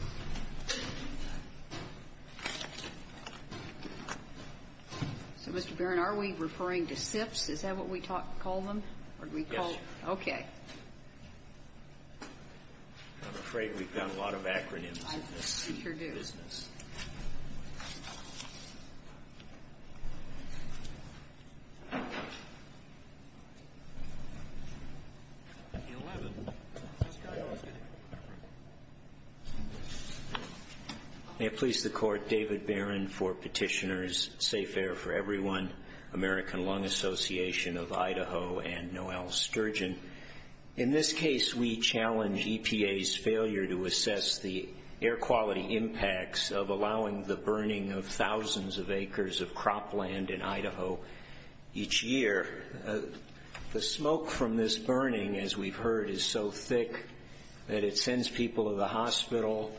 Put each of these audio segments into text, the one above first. So, Mr. Barron, are we referring to SIPs? Is that what we call them? Yes, sir. Okay. I'm afraid we've got a lot of acronyms in this business. I'm sure do. May it please the Court, David Barron for Petitioners, Safe Air For Everyone, American Lung Association of Idaho, and Noel Sturgeon. In this case, we challenge EPA's failure to assess the air quality impacts of allowing the burning of thousands of acres of cropland in Idaho each year. The smoke from this burning, as we've heard, is so thick that it sends people to the hospital,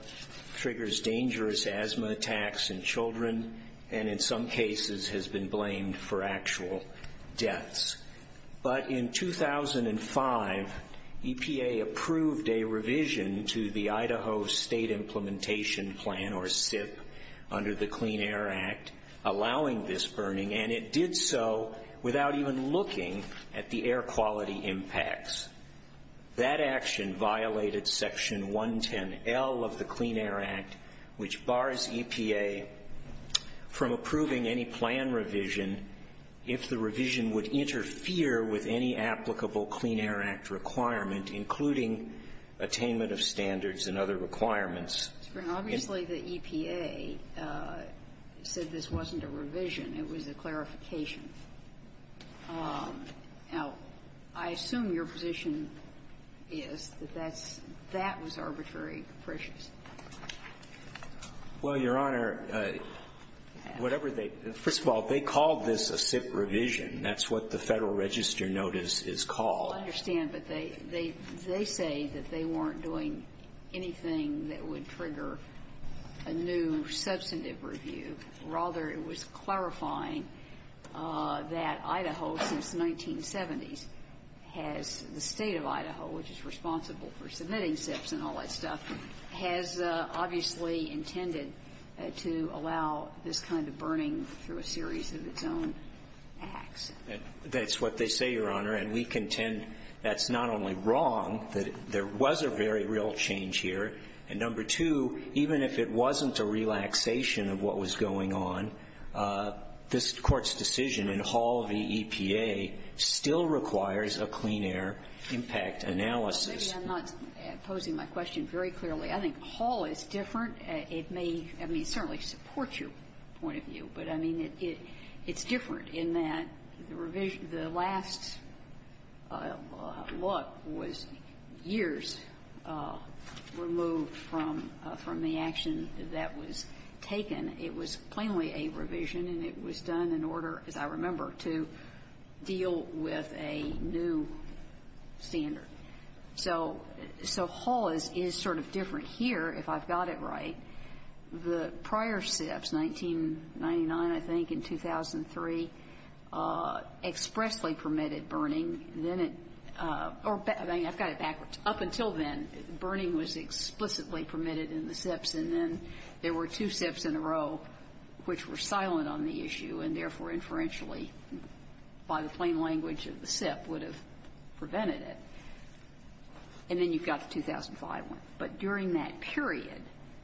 triggers dangerous asthma attacks in children, and in some cases has been blamed for actual deaths. But in 2005, EPA approved a revision to the Idaho State Implementation Plan, or SIP, under the Clean Air Act, allowing this burning, and it did so without even looking at the air quality impacts. That action violated Section 110L of the Clean Air Act, which bars EPA from approving any plan revision if the revision would interfere with any applicable Clean Air Act requirement, including attainment of standards and other requirements. Obviously, the EPA said this wasn't a revision. It was a clarification. Now, I assume your position is that that's that was arbitrary appreciation. Well, Your Honor, whatever they – first of all, they called this a SIP revision. That's what the Federal Register notice is called. I understand, but they say that they weren't doing anything that would trigger a new substantive review. Rather, it was clarifying that Idaho, since the 1970s, has – the State of Idaho, which is responsible for submitting SIPs and all that stuff, has obviously intended to allow this kind of burning through a series of its own acts. That's what they say, Your Honor. And we contend that's not only wrong, that there was a very real change here. And number two, even if it wasn't a relaxation of what was going on, this Court's decision in Hall v. EPA still requires a clean air impact analysis. Well, maybe I'm not posing my question very clearly. I think Hall is different. It may – I mean, it certainly supports your point of view, but, I mean, it's different in that the revision – the last look was years removed from the action that was taken. It was plainly a revision, and it was done in order, as I remember, to deal with a new standard. So Hall is sort of different here, if I've got it right. The prior SIPs, 1999, I think, and 2003, expressly permitted burning. Then it – or I've got it backwards. Up until then, burning was explicitly permitted in the SIPs, and then there were two SIPs in a row which were silent on the issue, and therefore, inferentially, by the plain language of the SIP, would have prevented it. And then you've got the 2005 one. But during that period,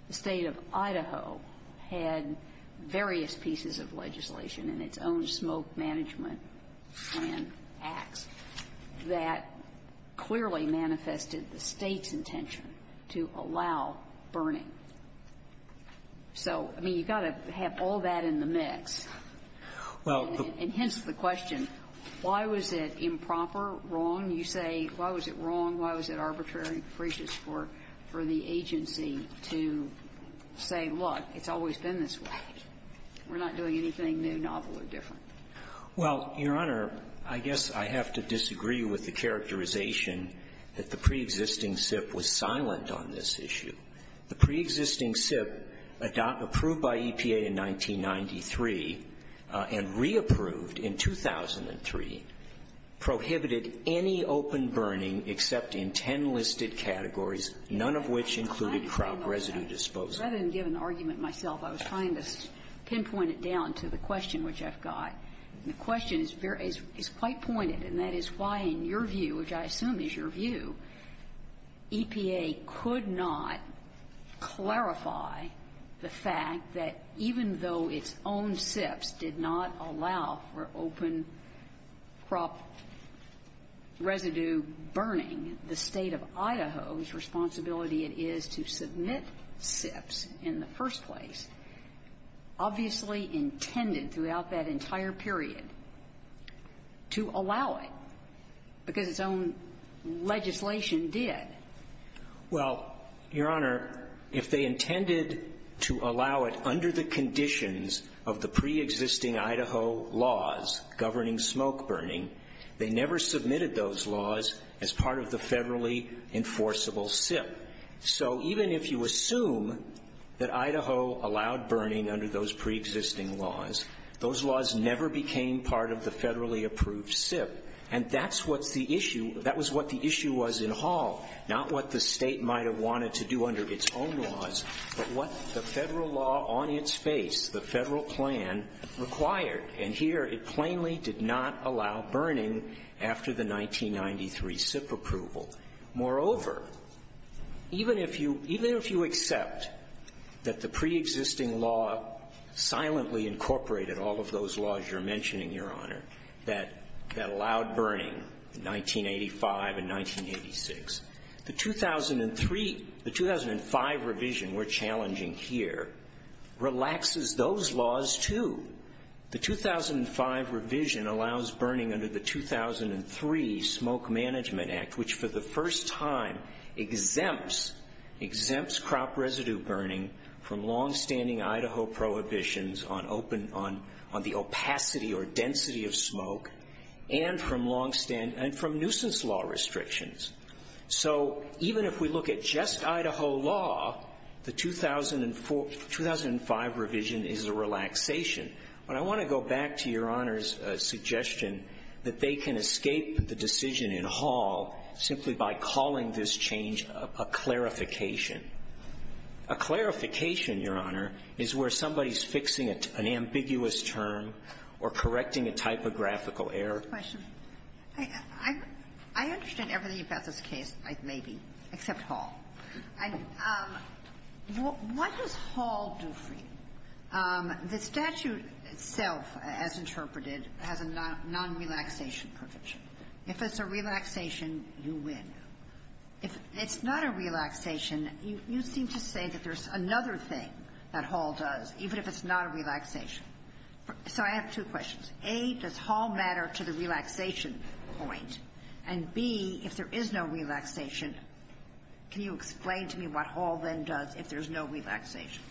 the State of Idaho had various pieces of legislation in its own smoke management plan acts that clearly manifested the State's intention to allow burning. So, I mean, you've got to have all that in the mix. And hence the question, why was it improper, wrong? You say, why was it wrong, why was it arbitrary and capricious for the agency to say, look, it's always been this way. We're not doing anything new, novel, or different. Well, Your Honor, I guess I have to disagree with the characterization that the preexisting SIP was silent on this issue. The preexisting SIP, approved by EPA in 1993 and re-approved in 2003, prohibited any open burning except in ten listed categories, none of which included crop residue disposal. Rather than give an argument myself, I was trying to pinpoint it down to the question which I've got. And the question is quite pointed, and that is why, in your view, which I assume is your view, EPA could not clarify the fact that even though its own SIPs did not allow for open crop residue burning, the State of Idaho's responsibility it is to submit SIPs in the first place, obviously intended throughout that entire period to allow it, because its own legislation did. Well, Your Honor, if they intended to allow it under the conditions of the preexisting Idaho laws governing smoke burning, they never submitted those laws as part of the federally enforceable SIP. So even if you assume that Idaho allowed burning under those preexisting laws, those laws never became part of the federally approved SIP. And that's what the issue was in Hall, not what the State might have wanted to do under its own laws, but what the federal law on its face, the federal plan, required. And here it plainly did not allow burning after the 1993 SIP approval. Moreover, even if you accept that the preexisting law silently incorporated all of those laws you're mentioning, Your Honor, that allowed burning in 1985 and 1986, the 2005 revision we're challenging here relaxes those laws, too. The 2005 revision allows burning under the 2003 Smoke Management Act, which for the first time exempts crop residue burning from longstanding Idaho prohibitions on the opacity or density of smoke and from nuisance law restrictions. So even if we look at just Idaho law, the 2004 or 2005 revision is a relaxation. But I want to go back to Your Honor's suggestion that they can escape the decision in Hall simply by calling this change a clarification. A clarification, Your Honor, is where somebody's fixing an ambiguous term or correcting a typographical error. Is that your question? I understand everything about this case, maybe, except Hall. What does Hall do for you? The statute itself, as interpreted, has a non-relaxation provision. If it's a relaxation, you win. If it's not a relaxation, you seem to say that there's another thing that Hall does, even if it's not a relaxation. So I have two questions. A, does Hall matter to the relaxation point? And B, if there is no relaxation, can you explain to me what Hall then does if there's no relaxation?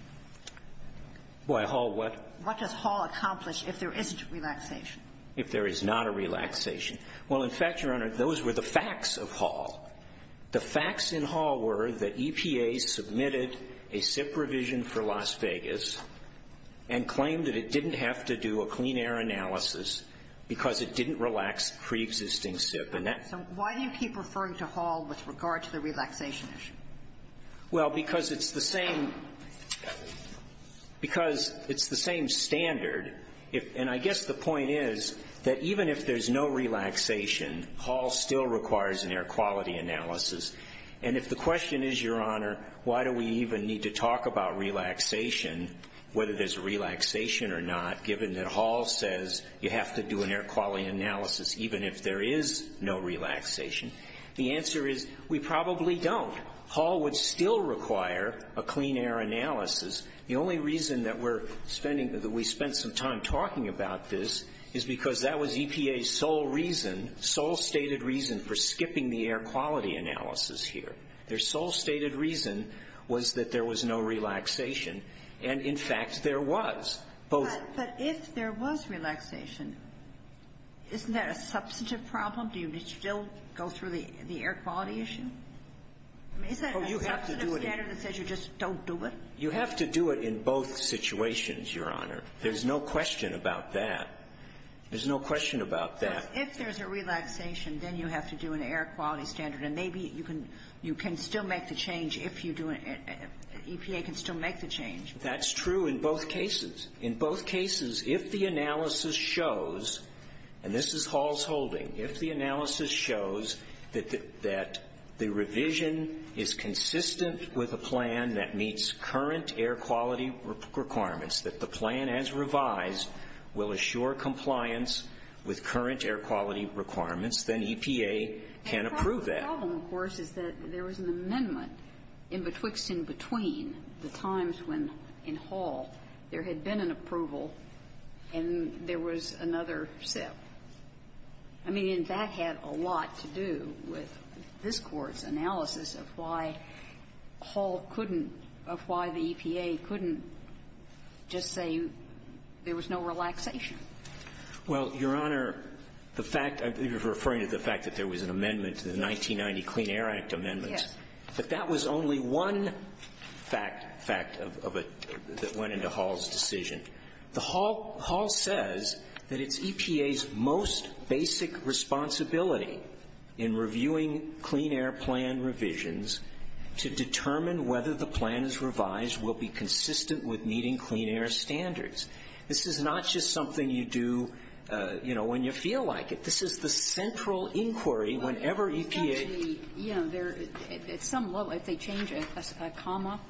Why, Hall, what? What does Hall accomplish if there isn't relaxation? If there is not a relaxation. Well, in fact, Your Honor, those were the facts of Hall. The facts in Hall were that EPA submitted a SIP revision for Las Vegas and claimed that it didn't have to do a clean air analysis because it didn't relax preexisting SIP. So why do you keep referring to Hall with regard to the relaxation issue? Well, because it's the same standard, and I guess the point is that even if there's no relaxation, Hall still requires an air quality analysis. And if the question is, Your Honor, why do we even need to talk about relaxation, whether there's relaxation or not, given that Hall says you have to do an air quality analysis even if there is no relaxation, the answer is we probably don't. Hall would still require a clean air analysis. The only reason that we're spending, that we spent some time talking about this is because that was EPA's sole reason, sole stated reason for skipping the air quality analysis here. Their sole stated reason was that there was no relaxation. And, in fact, there was. But if there was relaxation, isn't that a substantive problem? Do you still go through the air quality issue? I mean, is that a substantive standard that says you just don't do it? You have to do it in both situations, Your Honor. There's no question about that. There's no question about that. Well, if there's a relaxation, then you have to do an air quality standard. And maybe you can still make the change if you do it. EPA can still make the change. That's true in both cases. In both cases, if the analysis shows, and this is Hall's holding, if the analysis shows that the revision is consistent with a plan that meets current air quality requirements, that the plan as revised will assure compliance with current air quality requirements, then EPA can approve that. And part of the problem, of course, is that there was an amendment in betwixt and between the times when, in Hall, there had been an approval and there was another sip. I mean, and that had a lot to do with this Court's analysis of why Hall couldn't or why the EPA couldn't just say there was no relaxation. Well, Your Honor, the fact, you're referring to the fact that there was an amendment to the 1990 Clean Air Act amendments. Yes. But that was only one fact that went into Hall's decision. Hall says that it's EPA's most basic responsibility in reviewing clean air plan revisions to determine whether the plan as revised will be consistent with meeting clean air standards. This is not just something you do, you know, when you feel like it. This is the central inquiry whenever EPA ---- Well, it's actually, you know, there's some, well, if they change a comma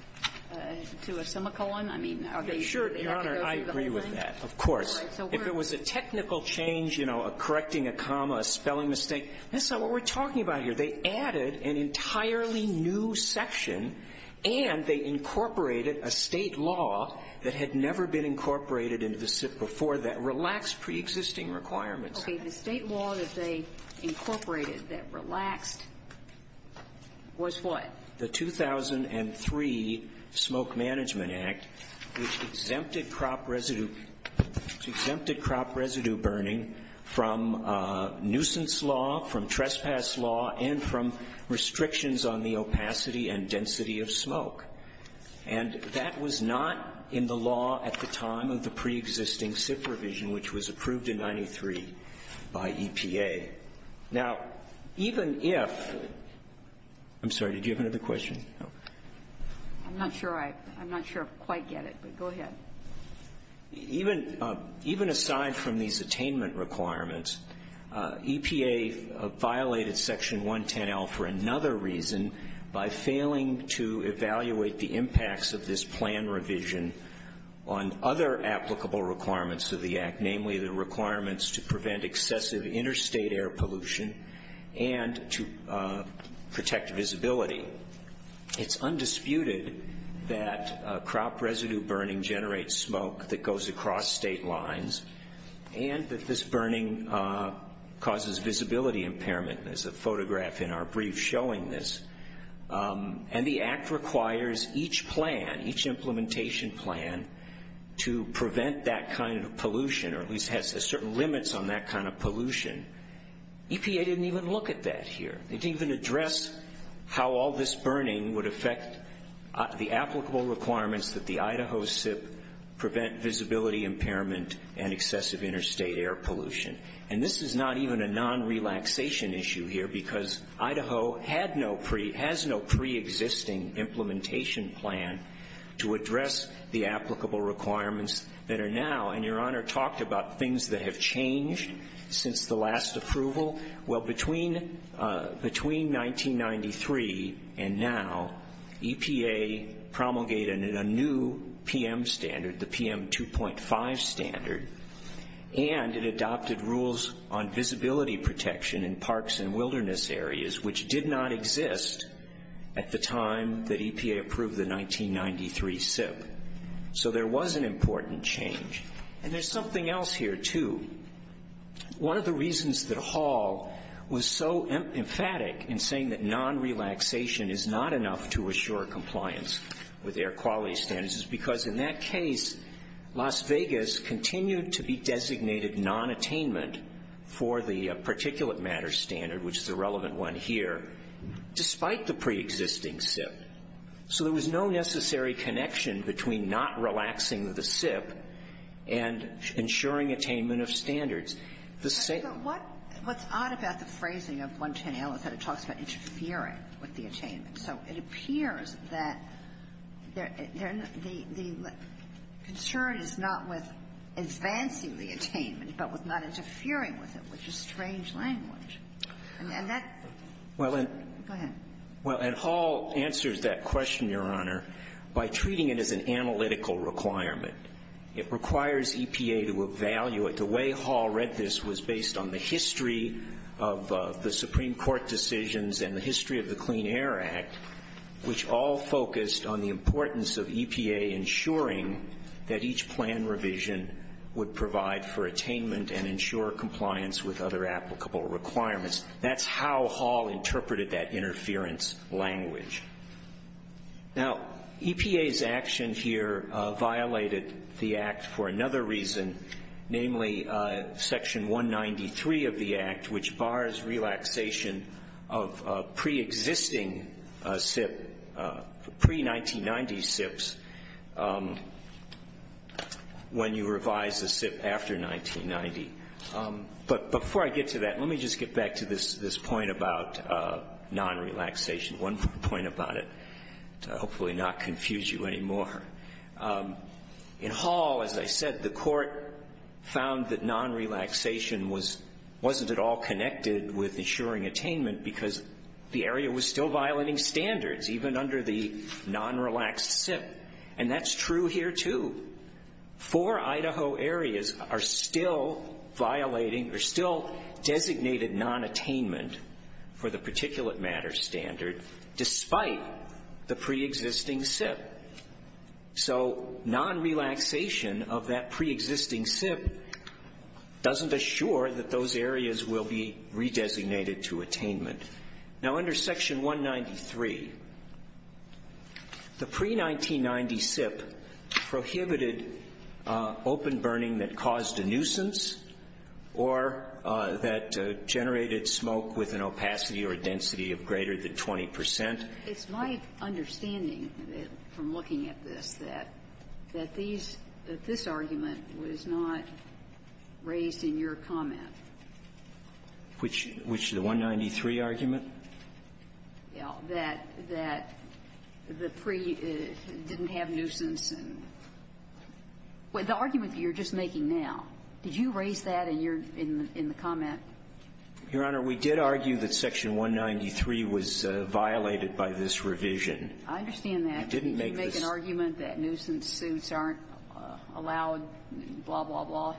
to a semicolon, I mean, I mean, that goes through the whole thing. Sure, Your Honor, I agree with that, of course. All right. So we're ---- If it was a technical change, you know, a correcting a comma, a spelling mistake, this is not what we're talking about here. They added an entirely new section, and they incorporated a State law that had never been incorporated before that relaxed preexisting requirements. Okay. The State law that they incorporated that relaxed was what? The 2003 Smoke Management Act, which exempted crop residue ---- which exempted crop residue burning from nuisance law, from trespass law, and from restrictions on the opacity and density of smoke. And that was not in the law at the time of the preexisting SIP provision, which was approved in 93 by EPA. Now, even if ---- I'm sorry. Did you have another question? No. I'm not sure I ---- I'm not sure I quite get it, but go ahead. Even ---- even aside from these attainment requirements, EPA violated Section 110L for another reason by failing to evaluate the impacts of this plan revision on other applicable requirements of the Act, namely the requirements to prevent excessive interstate air pollution and to protect visibility. It's undisputed that crop residue burning generates smoke that goes across state lines and that this burning causes visibility impairment. There's a photograph in our brief showing this. And the Act requires each plan, each implementation plan, to prevent that kind of pollution, or at least has certain limits on that kind of pollution. EPA didn't even look at that here. They didn't even address how all this burning would affect the applicable requirements that the Idaho SIP prevent visibility impairment and excessive interstate air pollution. And this is not even a non-relaxation issue here because Idaho had no pre ---- has no preexisting implementation plan to address the applicable requirements that are now. And Your Honor talked about things that have changed since the last approval. Well, between 1993 and now, EPA promulgated a new PM standard, the PM 2.5 standard, and it adopted rules on visibility protection in parks and wilderness areas, which did not exist at the time that EPA approved the 1993 SIP. So there was an important change. And there's something else here too. One of the reasons that Hall was so emphatic in saying that non-relaxation is not enough to assure compliance with air quality standards is because in that case, Las Vegas continued to be designated non-attainment for the particulate matter standard, which is the relevant one here, despite the preexisting SIP. So there was no necessary connection between not relaxing the SIP and ensuring attainment of standards. The same ---- But what's odd about the phrasing of 110L is that it talks about interfering with the attainment. So it appears that the concern is not with advancing the attainment, but with not interfering with it, which is strange language. And that ---- Well, and ---- Go ahead. Well, and Hall answers that question, Your Honor, by treating it as an analytical requirement. It requires EPA to evaluate. The way Hall read this was based on the history of the Supreme Court decisions and the history of the Clean Air Act, which all focused on the importance of EPA ensuring that each plan revision would provide for attainment and ensure compliance with other applicable requirements. That's how Hall interpreted that interference language. Now, EPA's action here violated the Act for another reason, namely Section 193 of the Act, which bars relaxation of preexisting SIP, pre-1990 SIPs, when you revise a SIP after 1990. But before I get to that, let me just get back to this point about non-relaxation, one more point about it to hopefully not confuse you anymore. In Hall, as I said, the Court found that non-relaxation was ---- wasn't at all connected with ensuring attainment because the area was still violating standards, even under the non-relaxed SIP. And that's true here, too. Four Idaho areas are still violating or still designated non-attainment for the particulate matter standard despite the preexisting SIP. So non-relaxation of that preexisting SIP doesn't assure that those areas will be redesignated to attainment. Now, under Section 193, the pre-1990 SIP prohibited open burning that caused a density of greater than 20 percent. It's my understanding from looking at this that this argument was not raised in your comment. Which is the 193 argument? Yeah, that the pre didn't have nuisance and the argument you're just making now. Did you raise that in the comment? Your Honor, we did argue that Section 193 was violated by this revision. I understand that. You didn't make this. Did you make an argument that nuisance suits aren't allowed, blah, blah, blah?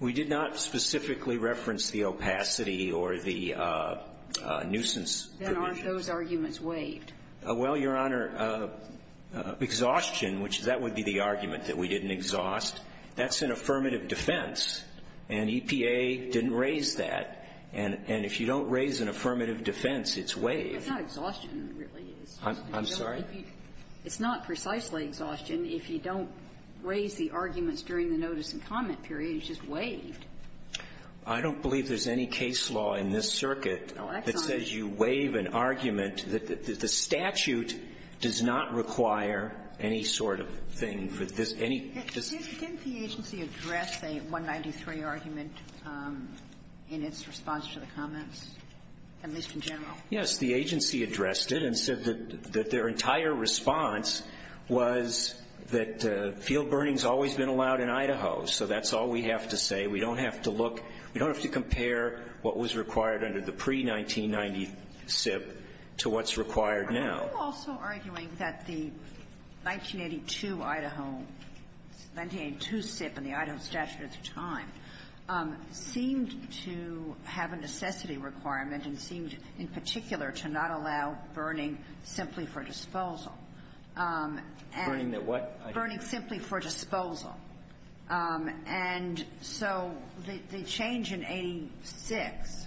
We did not specifically reference the opacity or the nuisance provisions. Then aren't those arguments waived? Well, Your Honor, exhaustion, which that would be the argument, that we didn't exhaust, that's an affirmative defense. And EPA didn't raise that. And if you don't raise an affirmative defense, it's waived. It's not exhaustion, really. I'm sorry? It's not precisely exhaustion if you don't raise the arguments during the notice and comment period. It's just waived. I don't believe there's any case law in this circuit that says you waive an argument that the statute does not require any sort of thing for this, any justice. Didn't the agency address a 193 argument in its response to the comments, at least in general? Yes. The agency addressed it and said that their entire response was that field burning has always been allowed in Idaho. So that's all we have to say. We don't have to look. We don't have to compare what was required under the pre-1990 SIP to what's required now. Are you also arguing that the 1982 Idaho 1982 SIP and the Idaho statute at the time seemed to have a necessity requirement and seemed, in particular, to not allow burning simply for disposal? Burning that what? Burning simply for disposal. And so the change in 86,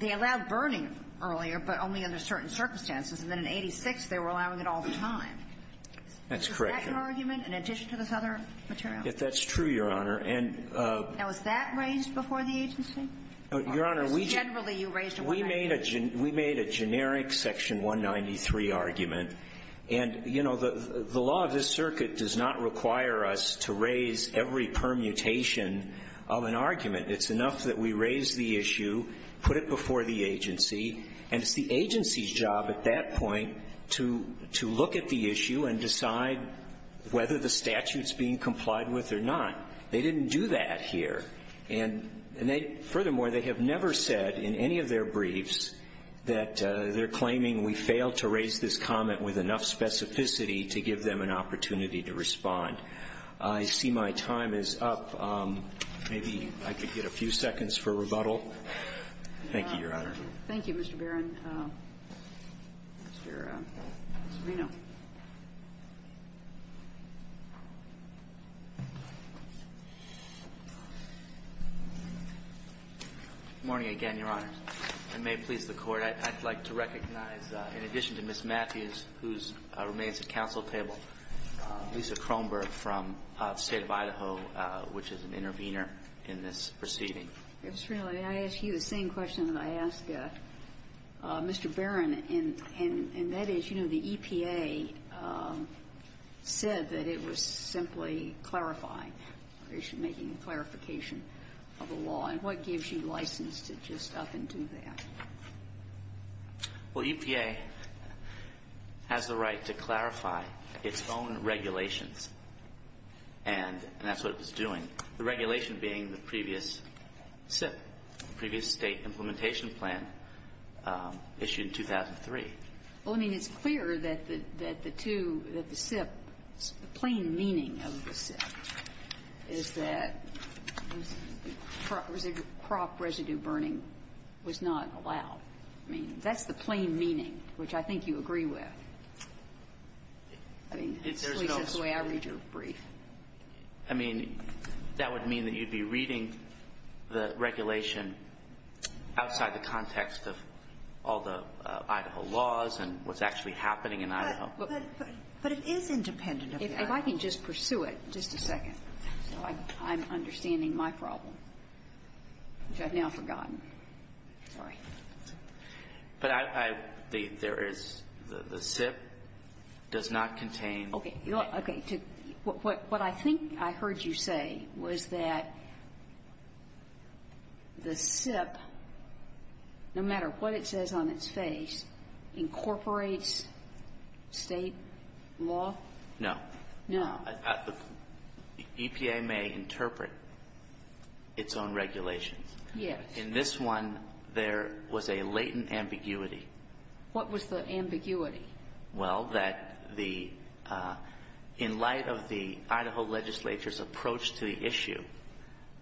they allowed burning earlier, but only under certain circumstances, and then in 86, they were allowing it all the time. That's correct. Is that your argument in addition to this other material? That's true, Your Honor. And the law of this circuit does not require us to raise every permutation of an argument. It's enough that we raise the issue, put it before the agency, and it's the agency's to look at the issue and decide whether the statute's being complied with or not. They didn't do that here. And they – furthermore, they have never said in any of their briefs that they're claiming we failed to raise this comment with enough specificity to give them an opportunity to respond. I see my time is up. Maybe I could get a few seconds for rebuttal. Thank you, Your Honor. Thank you, Mr. Barron. Mr. Serino. Good morning again, Your Honor. And may it please the Court, I'd like to recognize, in addition to Ms. Matthews, who remains at counsel table, Lisa Kronberg from the State of Idaho, which is an intervener in this proceeding. Ms. Serino, may I ask you the same question that I asked Mr. Barron, and that is, you know, the EPA said that it was simply clarifying, making a clarification of the law. And what gives you license to just up and do that? Well, EPA has the right to clarify its own regulations, and that's what it was doing, the regulation being the previous SIP, the previous State implementation plan, issued in 2003. Well, I mean, it's clear that the two, that the SIP, the plain meaning of the SIP is that crop residue burning was not allowed. I mean, that's the plain meaning, which I think you agree with. I mean, at least that's the way I read your brief. I mean, that would mean that you'd be reading the regulation outside the context of all the Idaho laws and what's actually happening in Idaho. But it is independent of the Idaho. If I can just pursue it just a second, so I'm understanding my problem, which I've now forgotten. Sorry. But I, I, there is, the SIP does not contain. Okay. Okay. What I think I heard you say was that the SIP, no matter what it says on its face, incorporates State law? No. No. The EPA may interpret its own regulations. Yes. In this one, there was a latent ambiguity. What was the ambiguity? Well, that the, in light of the Idaho legislature's approach to the issue,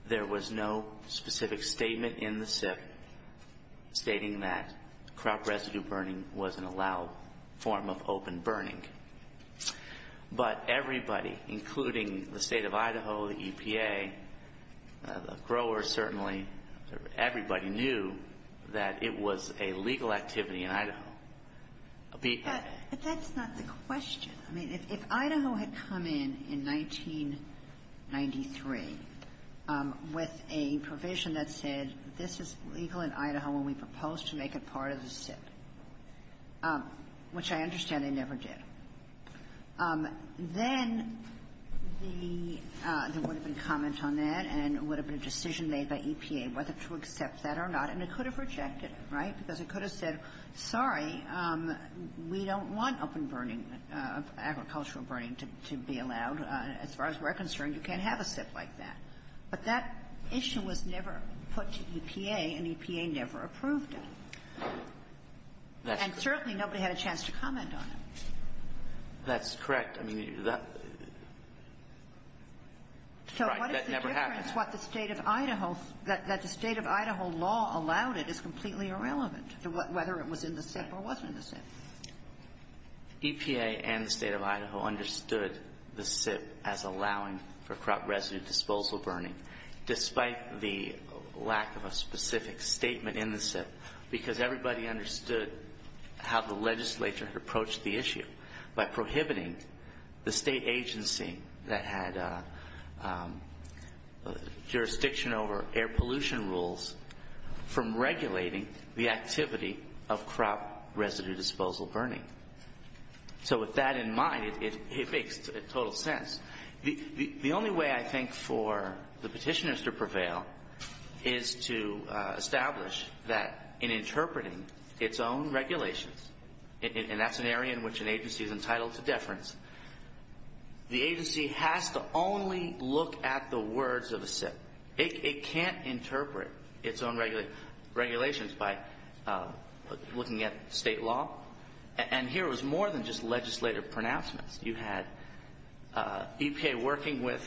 there was no specific statement in the SIP stating that crop residue burning was an allowed form of open burning. But everybody, including the State of Idaho, the EPA, the growers certainly, everybody knew that it was a legal activity in Idaho. But that's not the question. I mean, if Idaho had come in in 1993 with a provision that said this is legal in Idaho and we propose to make it part of the SIP, which I understand they never did, then the, there would have been comment on that, and it would have been a decision made by EPA whether to accept that or not, and it could have rejected it, right? Because it could have said, sorry, we don't want open burning, agricultural burning to be allowed. As far as we're concerned, you can't have a SIP like that. But that issue was never put to EPA, and EPA never approved it. And certainly nobody had a chance to comment on it. That's correct. I mean, that, right, that never happened. It's what the State of Idaho, that the State of Idaho law allowed it is completely irrelevant to whether it was in the SIP or wasn't in the SIP. EPA and the State of Idaho understood the SIP as allowing for crop residue disposal burning, despite the lack of a specific statement in the SIP, because everybody understood how the legislature had approached the issue by prohibiting the state agency that had jurisdiction over air pollution rules from regulating the activity of crop residue disposal burning. So with that in mind, it makes total sense. The only way I think for the petitioners to prevail is to establish that in interpreting its own regulations, and that's an area in which an agency is the agency has to only look at the words of a SIP. It can't interpret its own regulations by looking at state law. And here it was more than just legislative pronouncements. You had EPA working with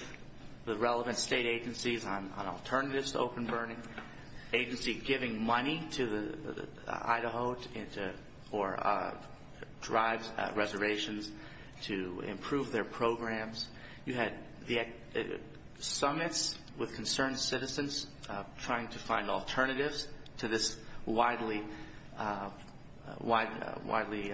the relevant state agencies on alternatives to open burning, agency giving money to the Idaho, or drives reservations to improve their programs. You had the summits with concerned citizens trying to find alternatives to this widely, widely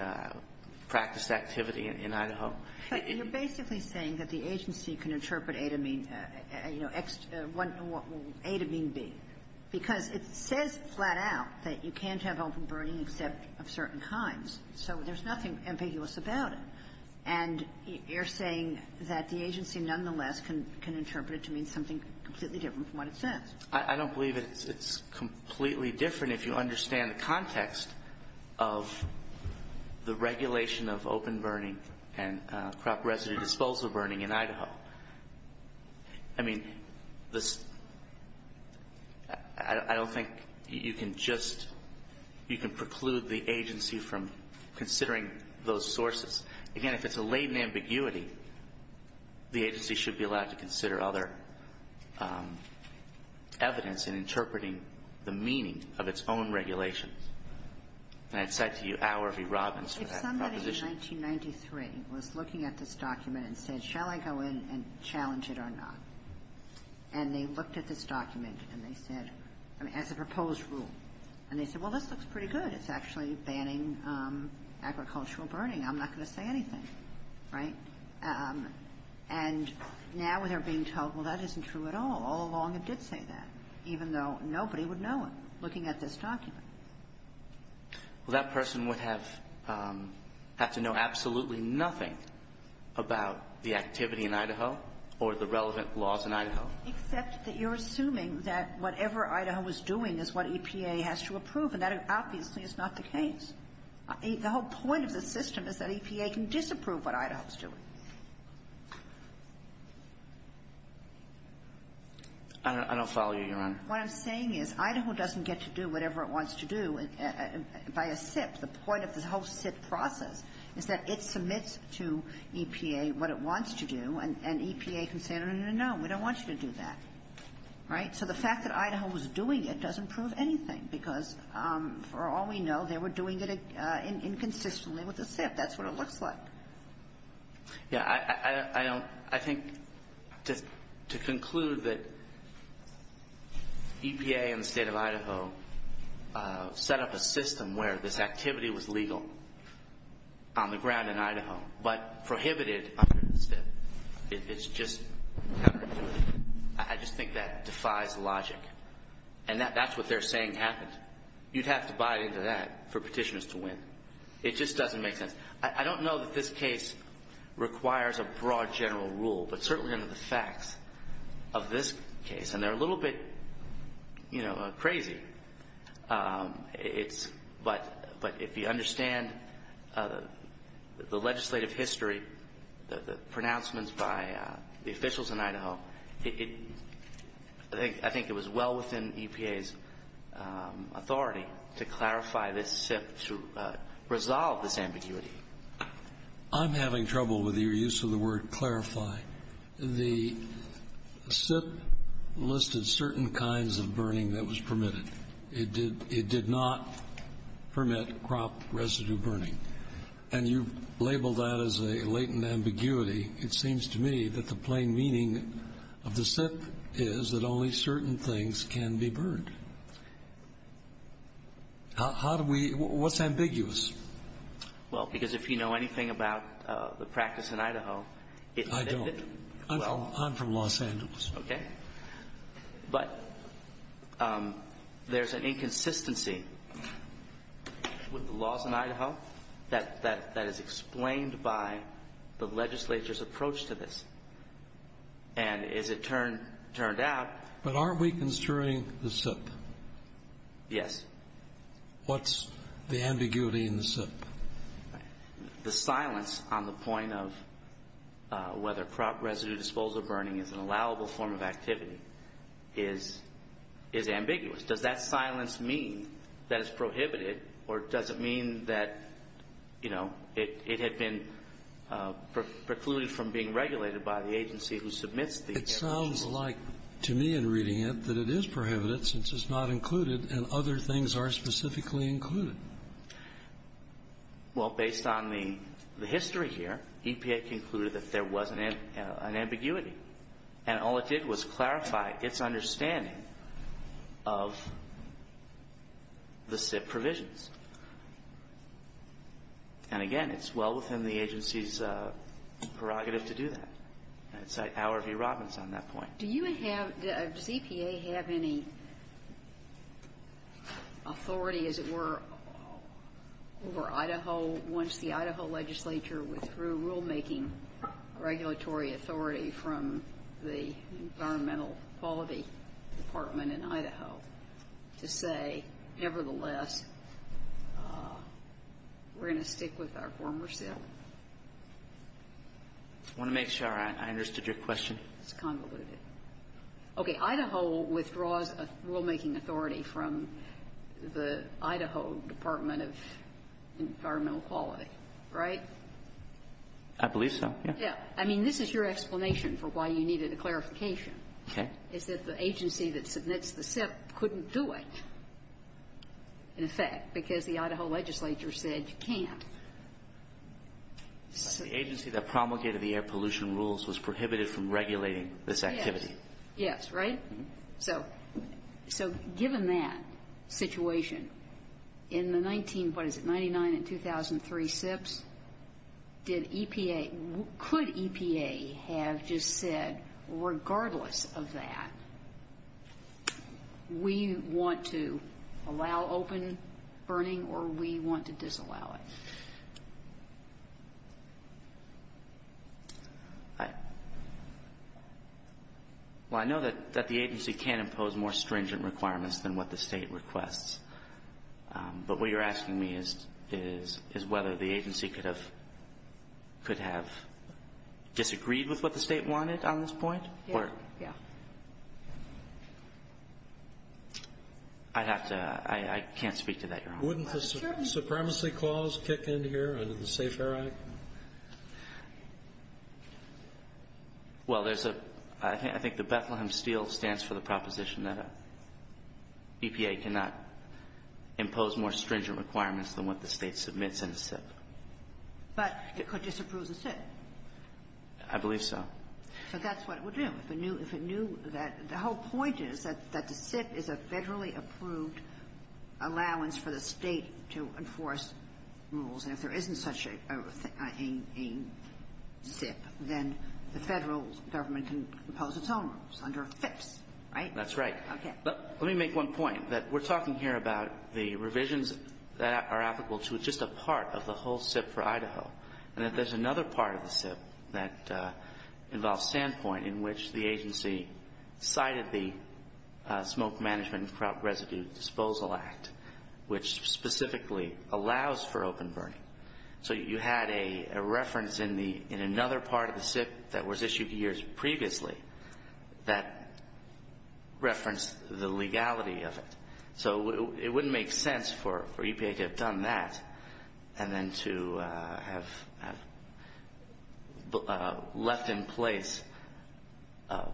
practiced activity in Idaho. But you're basically saying that the agency can interpret A to mean, you know, A to mean B, because it says flat out that you can't have open burning except of certain kinds. So there's nothing ambiguous about it. And you're saying that the agency, nonetheless, can interpret it to mean something completely different from what it says. I don't believe it's completely different if you understand the context of the regulation of open burning and crop residue disposal burning in Idaho. I mean, this — I don't think you can just — you can preclude the agency from considering those sources. Again, if it's a latent ambiguity, the agency should be allowed to consider other evidence in interpreting the meaning of its own regulations. And I'd cite to you Al or V. Robbins for that proposition. If somebody in 1993 was looking at this document and said, shall I go in and challenge it or not, and they looked at this document and they said — I mean, as a proposed rule, and they said, well, this looks pretty good. It's actually banning agricultural burning. I'm not going to say anything, right? And now they're being told, well, that isn't true at all. All along it did say that, even though nobody would know it, looking at this document. Well, that person would have to know absolutely nothing about the activity in Idaho or the relevant laws in Idaho. Except that you're assuming that whatever Idaho is doing is what EPA has to approve, and that obviously is not the case. The whole point of the system is that EPA can disapprove what Idaho is doing. I don't follow you, Your Honor. What I'm saying is Idaho doesn't get to do whatever it wants to do by a SIP. The point of this whole SIP process is that it submits to EPA what it wants to do, and EPA can say, no, no, no, no, no, we don't want you to do that, right? So the fact that Idaho was doing it doesn't prove anything, because for all we know, they were doing it inconsistently with the SIP. That's what it looks like. Yeah, I think to conclude that EPA and the state of Idaho set up a system where this activity was legal on the ground in Idaho, but prohibited under the SIP, it's just, I just think that defies logic. And that's what they're saying happened. You'd have to buy into that for petitioners to win. It just doesn't make sense. I don't know that this case requires a broad general rule, but certainly under the facts of this case, and they're a little bit crazy, but if you understand the legislative history, the pronouncements by the officials in Idaho, I think it was well within EPA's authority to clarify this SIP to resolve this ambiguity. I'm having trouble with your use of the word clarify. The SIP listed certain kinds of burning that was permitted. It did not permit crop residue burning. And you've labeled that as a latent ambiguity. It seems to me that the plain meaning of the SIP is that only certain things can be burned. How do we, what's ambiguous? Well, because if you know anything about the practice in Idaho. I don't. I'm from Los Angeles. Okay. But there's an inconsistency with the laws in Idaho that is explained by the legislature's approach to this. And as it turned out. But aren't we construing the SIP? Yes. What's the ambiguity in the SIP? The silence on the point of whether crop residue disposal burning is an allowable form of activity is ambiguous. Does that silence mean that it's prohibited? Or does it mean that, you know, it had been precluded from being regulated by the agency who submits the SIP? It sounds like, to me in reading it, that it is prohibited since it's not included and other things are specifically included. Well, based on the history here, EPA concluded that there was an ambiguity. And all it did was clarify its understanding of the SIP provisions. And again, it's well within the agency's prerogative to do that. It's like Howard V. Robbins on that point. Do you have, does EPA have any authority, as it were, over Idaho once the Idaho legislature withdrew rulemaking regulatory authority from the Environmental Quality Department in Idaho to say, nevertheless, we're going to stick with our former SIP? I want to make sure I understood your question. It's convoluted. Okay. Idaho withdraws rulemaking authority from the Idaho Department of Environmental Quality, right? I believe so, yeah. Yeah. I mean, this is your explanation for why you needed a clarification. Okay. Is that the agency that submits the SIP couldn't do it, in effect, because the Idaho legislature said you can't. The agency that promulgated the air pollution rules was prohibited from regulating this activity. Yes, right? So given that situation, in the 19, what is it, 99 and 2003 SIPs, did EPA, could EPA have just said, regardless of that, we want to allow open burning, or we want to disallow it? Well, I know that the agency can't impose more stringent requirements than what the state requests, but what you're asking me is whether the agency could have disagreed with what the state wanted on this point? Yeah. I'd have to, I can't speak to that, Your Honor. Wouldn't the Supremacy Clause kick in here under the Safe Air Act? Well, there's a, I think the Bethlehem Steel stands for the proposition that EPA cannot impose more stringent requirements than what the state submits in a SIP. But it could disapprove the SIP. I believe so. So that's what it would do if it knew, if it knew that, the whole point is that the SIP is a federally approved allowance for the state to enforce rules. And if there isn't such a SIP, then the Federal government can impose its own rules under FIPS, right? That's right. Okay. But let me make one point, that we're talking here about the revisions that are applicable to just a part of the whole SIP for Idaho, and that there's another part of the SIP that involves standpoint in which the agency cited the Smoke Management and Crop Residue Disposal Act, which specifically allows for open burning. So you had a reference in the, in another part of the SIP that was issued years previously that referenced the legality of it. So it wouldn't make sense for EPA to have done that and then to have left in place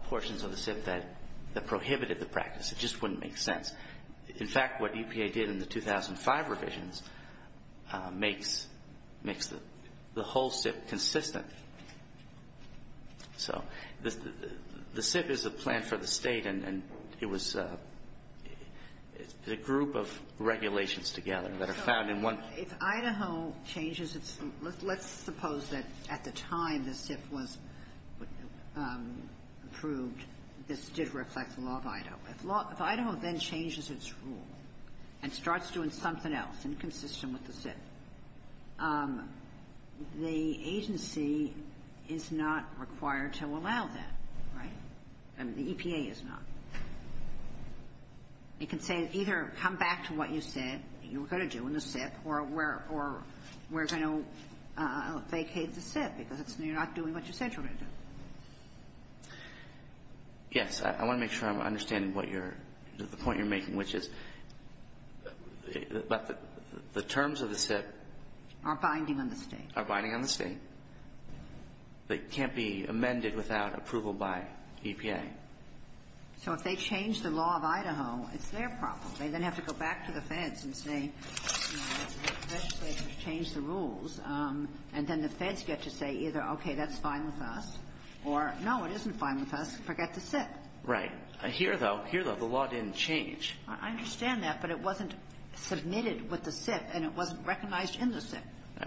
portions of the SIP that prohibited the practice. It just wouldn't make sense. In fact, what EPA did in the 2005 revisions makes the whole SIP consistent. So the SIP is a plan for the State, and it was a group of regulations together that are found in one of the SIPs. So if Idaho changes its rules, let's suppose that at the time the SIP was approved, this did reflect the law of Idaho. If Idaho then changes its rule and starts doing something else inconsistent with the SIP, the agency is not required to allow that, right? I mean, the EPA is not. You can say either come back to what you said you were going to do in the SIP or we're going to vacate the SIP because you're not doing what you said you were going to do. Yes. I want to make sure I'm understanding what you're, the point you're making, which is that the terms of the SIP are binding on the State. Are binding on the State. They can't be amended without approval by EPA. So if they change the law of Idaho, it's their problem. They then have to go back to the Feds and say, you know, the Feds have changed the rules, and then the Feds get to say either, okay, that's fine with us, or no, it isn't fine with us, forget the SIP. Right. Here, though, here, though, the law didn't change. I understand that, but it wasn't submitted with the SIP, and it wasn't recognized in the SIP.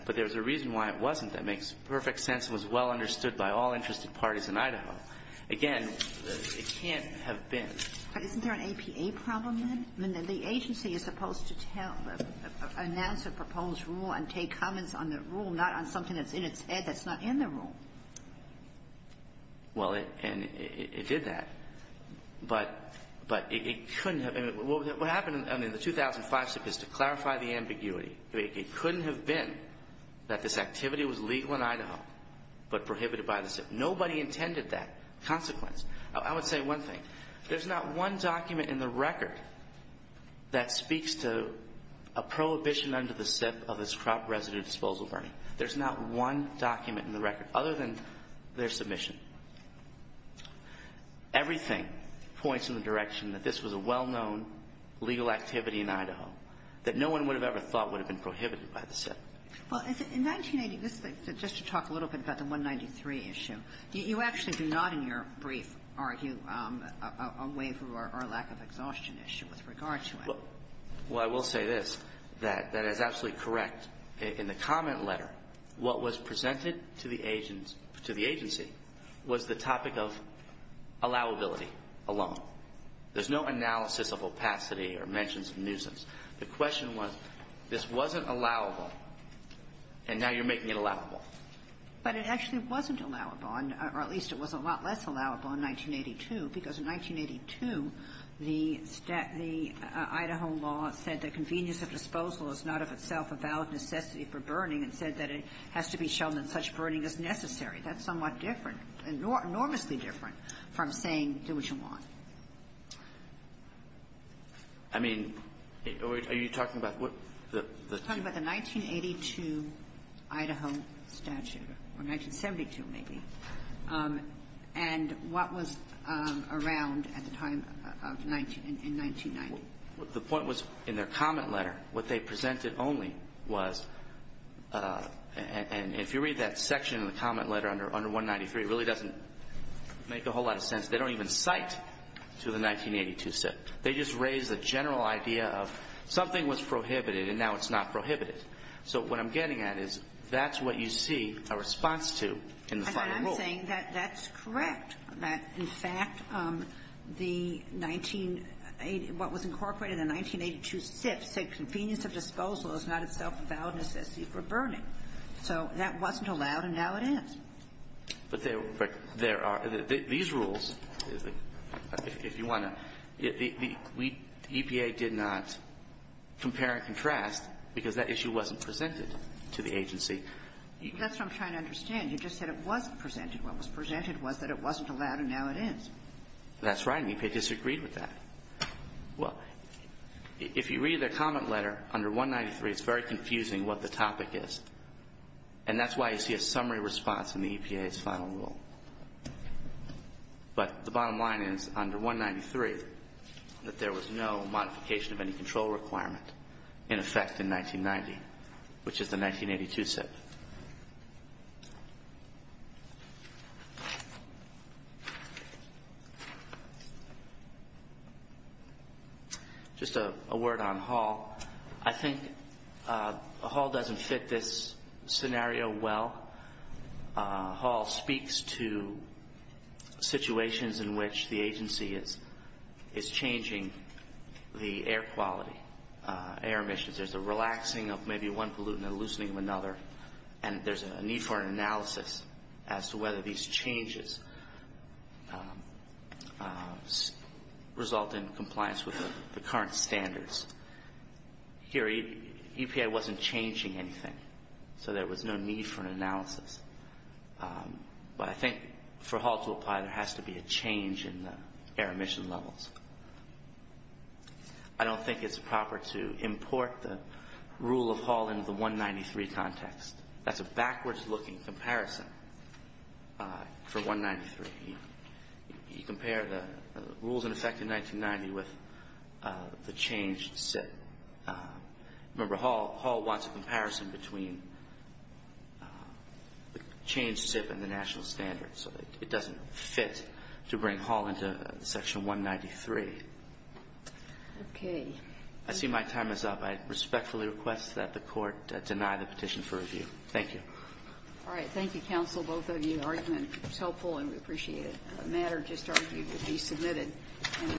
But there's a reason why it wasn't. That makes perfect sense. It was well understood by all interested parties in Idaho. Again, it can't have been. But isn't there an EPA problem then? I mean, the agency is supposed to tell, announce a proposed rule and take comments on the rule, not on something that's in its head that's not in the rule. Well, and it did that. But it couldn't have. What happened in the 2005 SIP is, to clarify the ambiguity, it couldn't have been that this activity was legal in Idaho but prohibited by the SIP. Nobody intended that consequence. I would say one thing. There's not one document in the record that speaks to a prohibition under the SIP of this crop resident disposal burning. There's not one document in the record, other than their submission. Everything points in the direction that this was a well-known legal activity in Idaho that no one would have ever thought would have been prohibited by the SIP. Well, in 1980, just to talk a little bit about the 193 issue, you actually do not, in your brief, argue a waiver or lack of exhaustion issue with regard to it. Well, I will say this, that is absolutely correct. In the comment letter, what was presented to the agency was the topic of allowability alone. There's no analysis of opacity or mentions of nuisance. The question was, this wasn't allowable, and now you're making it allowable. But it actually wasn't allowable, or at least it was a lot less allowable in 1982, because in 1982, the Idaho law said that convenience of disposal is not of itself a valid necessity for burning and said that it has to be shown that such burning is necessary. That's somewhat different, enormously different, from saying do what you want. I mean, are you talking about what the ---- I'm talking about the 1982 Idaho statute, or 1972 maybe, and what was around at the time of 19 1990. The point was in their comment letter, what they presented only was, and if you read that section in the comment letter under 193, it really doesn't make a whole lot of sense. They don't even cite to the 1982 statute. They just raise the general idea of something was prohibited, and now it's not prohibited. So what I'm getting at is that's what you see a response to in the final rule. Ginsburg's saying that that's correct, that, in fact, the 1980 ---- what was incorporated in the 1982 SIF said convenience of disposal is not itself a valid necessity for burning. So that wasn't allowed, and now it is. But there are ---- these rules, if you want to ---- the EPA did not compare and contrast because that issue wasn't presented to the agency. That's what I'm trying to understand. You just said it wasn't presented. What was presented was that it wasn't allowed, and now it is. That's right, and EPA disagreed with that. Well, if you read their comment letter under 193, it's very confusing what the topic is. And that's why you see a summary response in the EPA's final rule. But the bottom line is, under 193, that there was no modification of any control requirement in effect in 1990, which is the 1982 SIF. Just a word on Hall. I think Hall doesn't fit this scenario well. Hall speaks to situations in which the agency is changing the air quality, air emissions. There's a relaxing of maybe one pollutant and a loosening of another, and there's a need for an analysis as to whether these changes result in compliance with the current standards. Here, EPA wasn't changing anything, so there was no need for an analysis. But I think for Hall to apply, there has to be a change in the air emission levels. I don't think it's proper to import the rule of Hall into the 193 context. That's a backwards-looking comparison for 193. You compare the rules in effect in 1990 with the changed SIF. Remember, Hall wants a comparison between the changed SIF and the national standards, so it doesn't fit to bring Hall into Section 193. Okay. I see my time is up. I respectfully request that the Court deny the petition for review. Thank you. All right. Thank you, counsel, both of you. The argument was helpful and we appreciate it. The matter just argued to be submitted.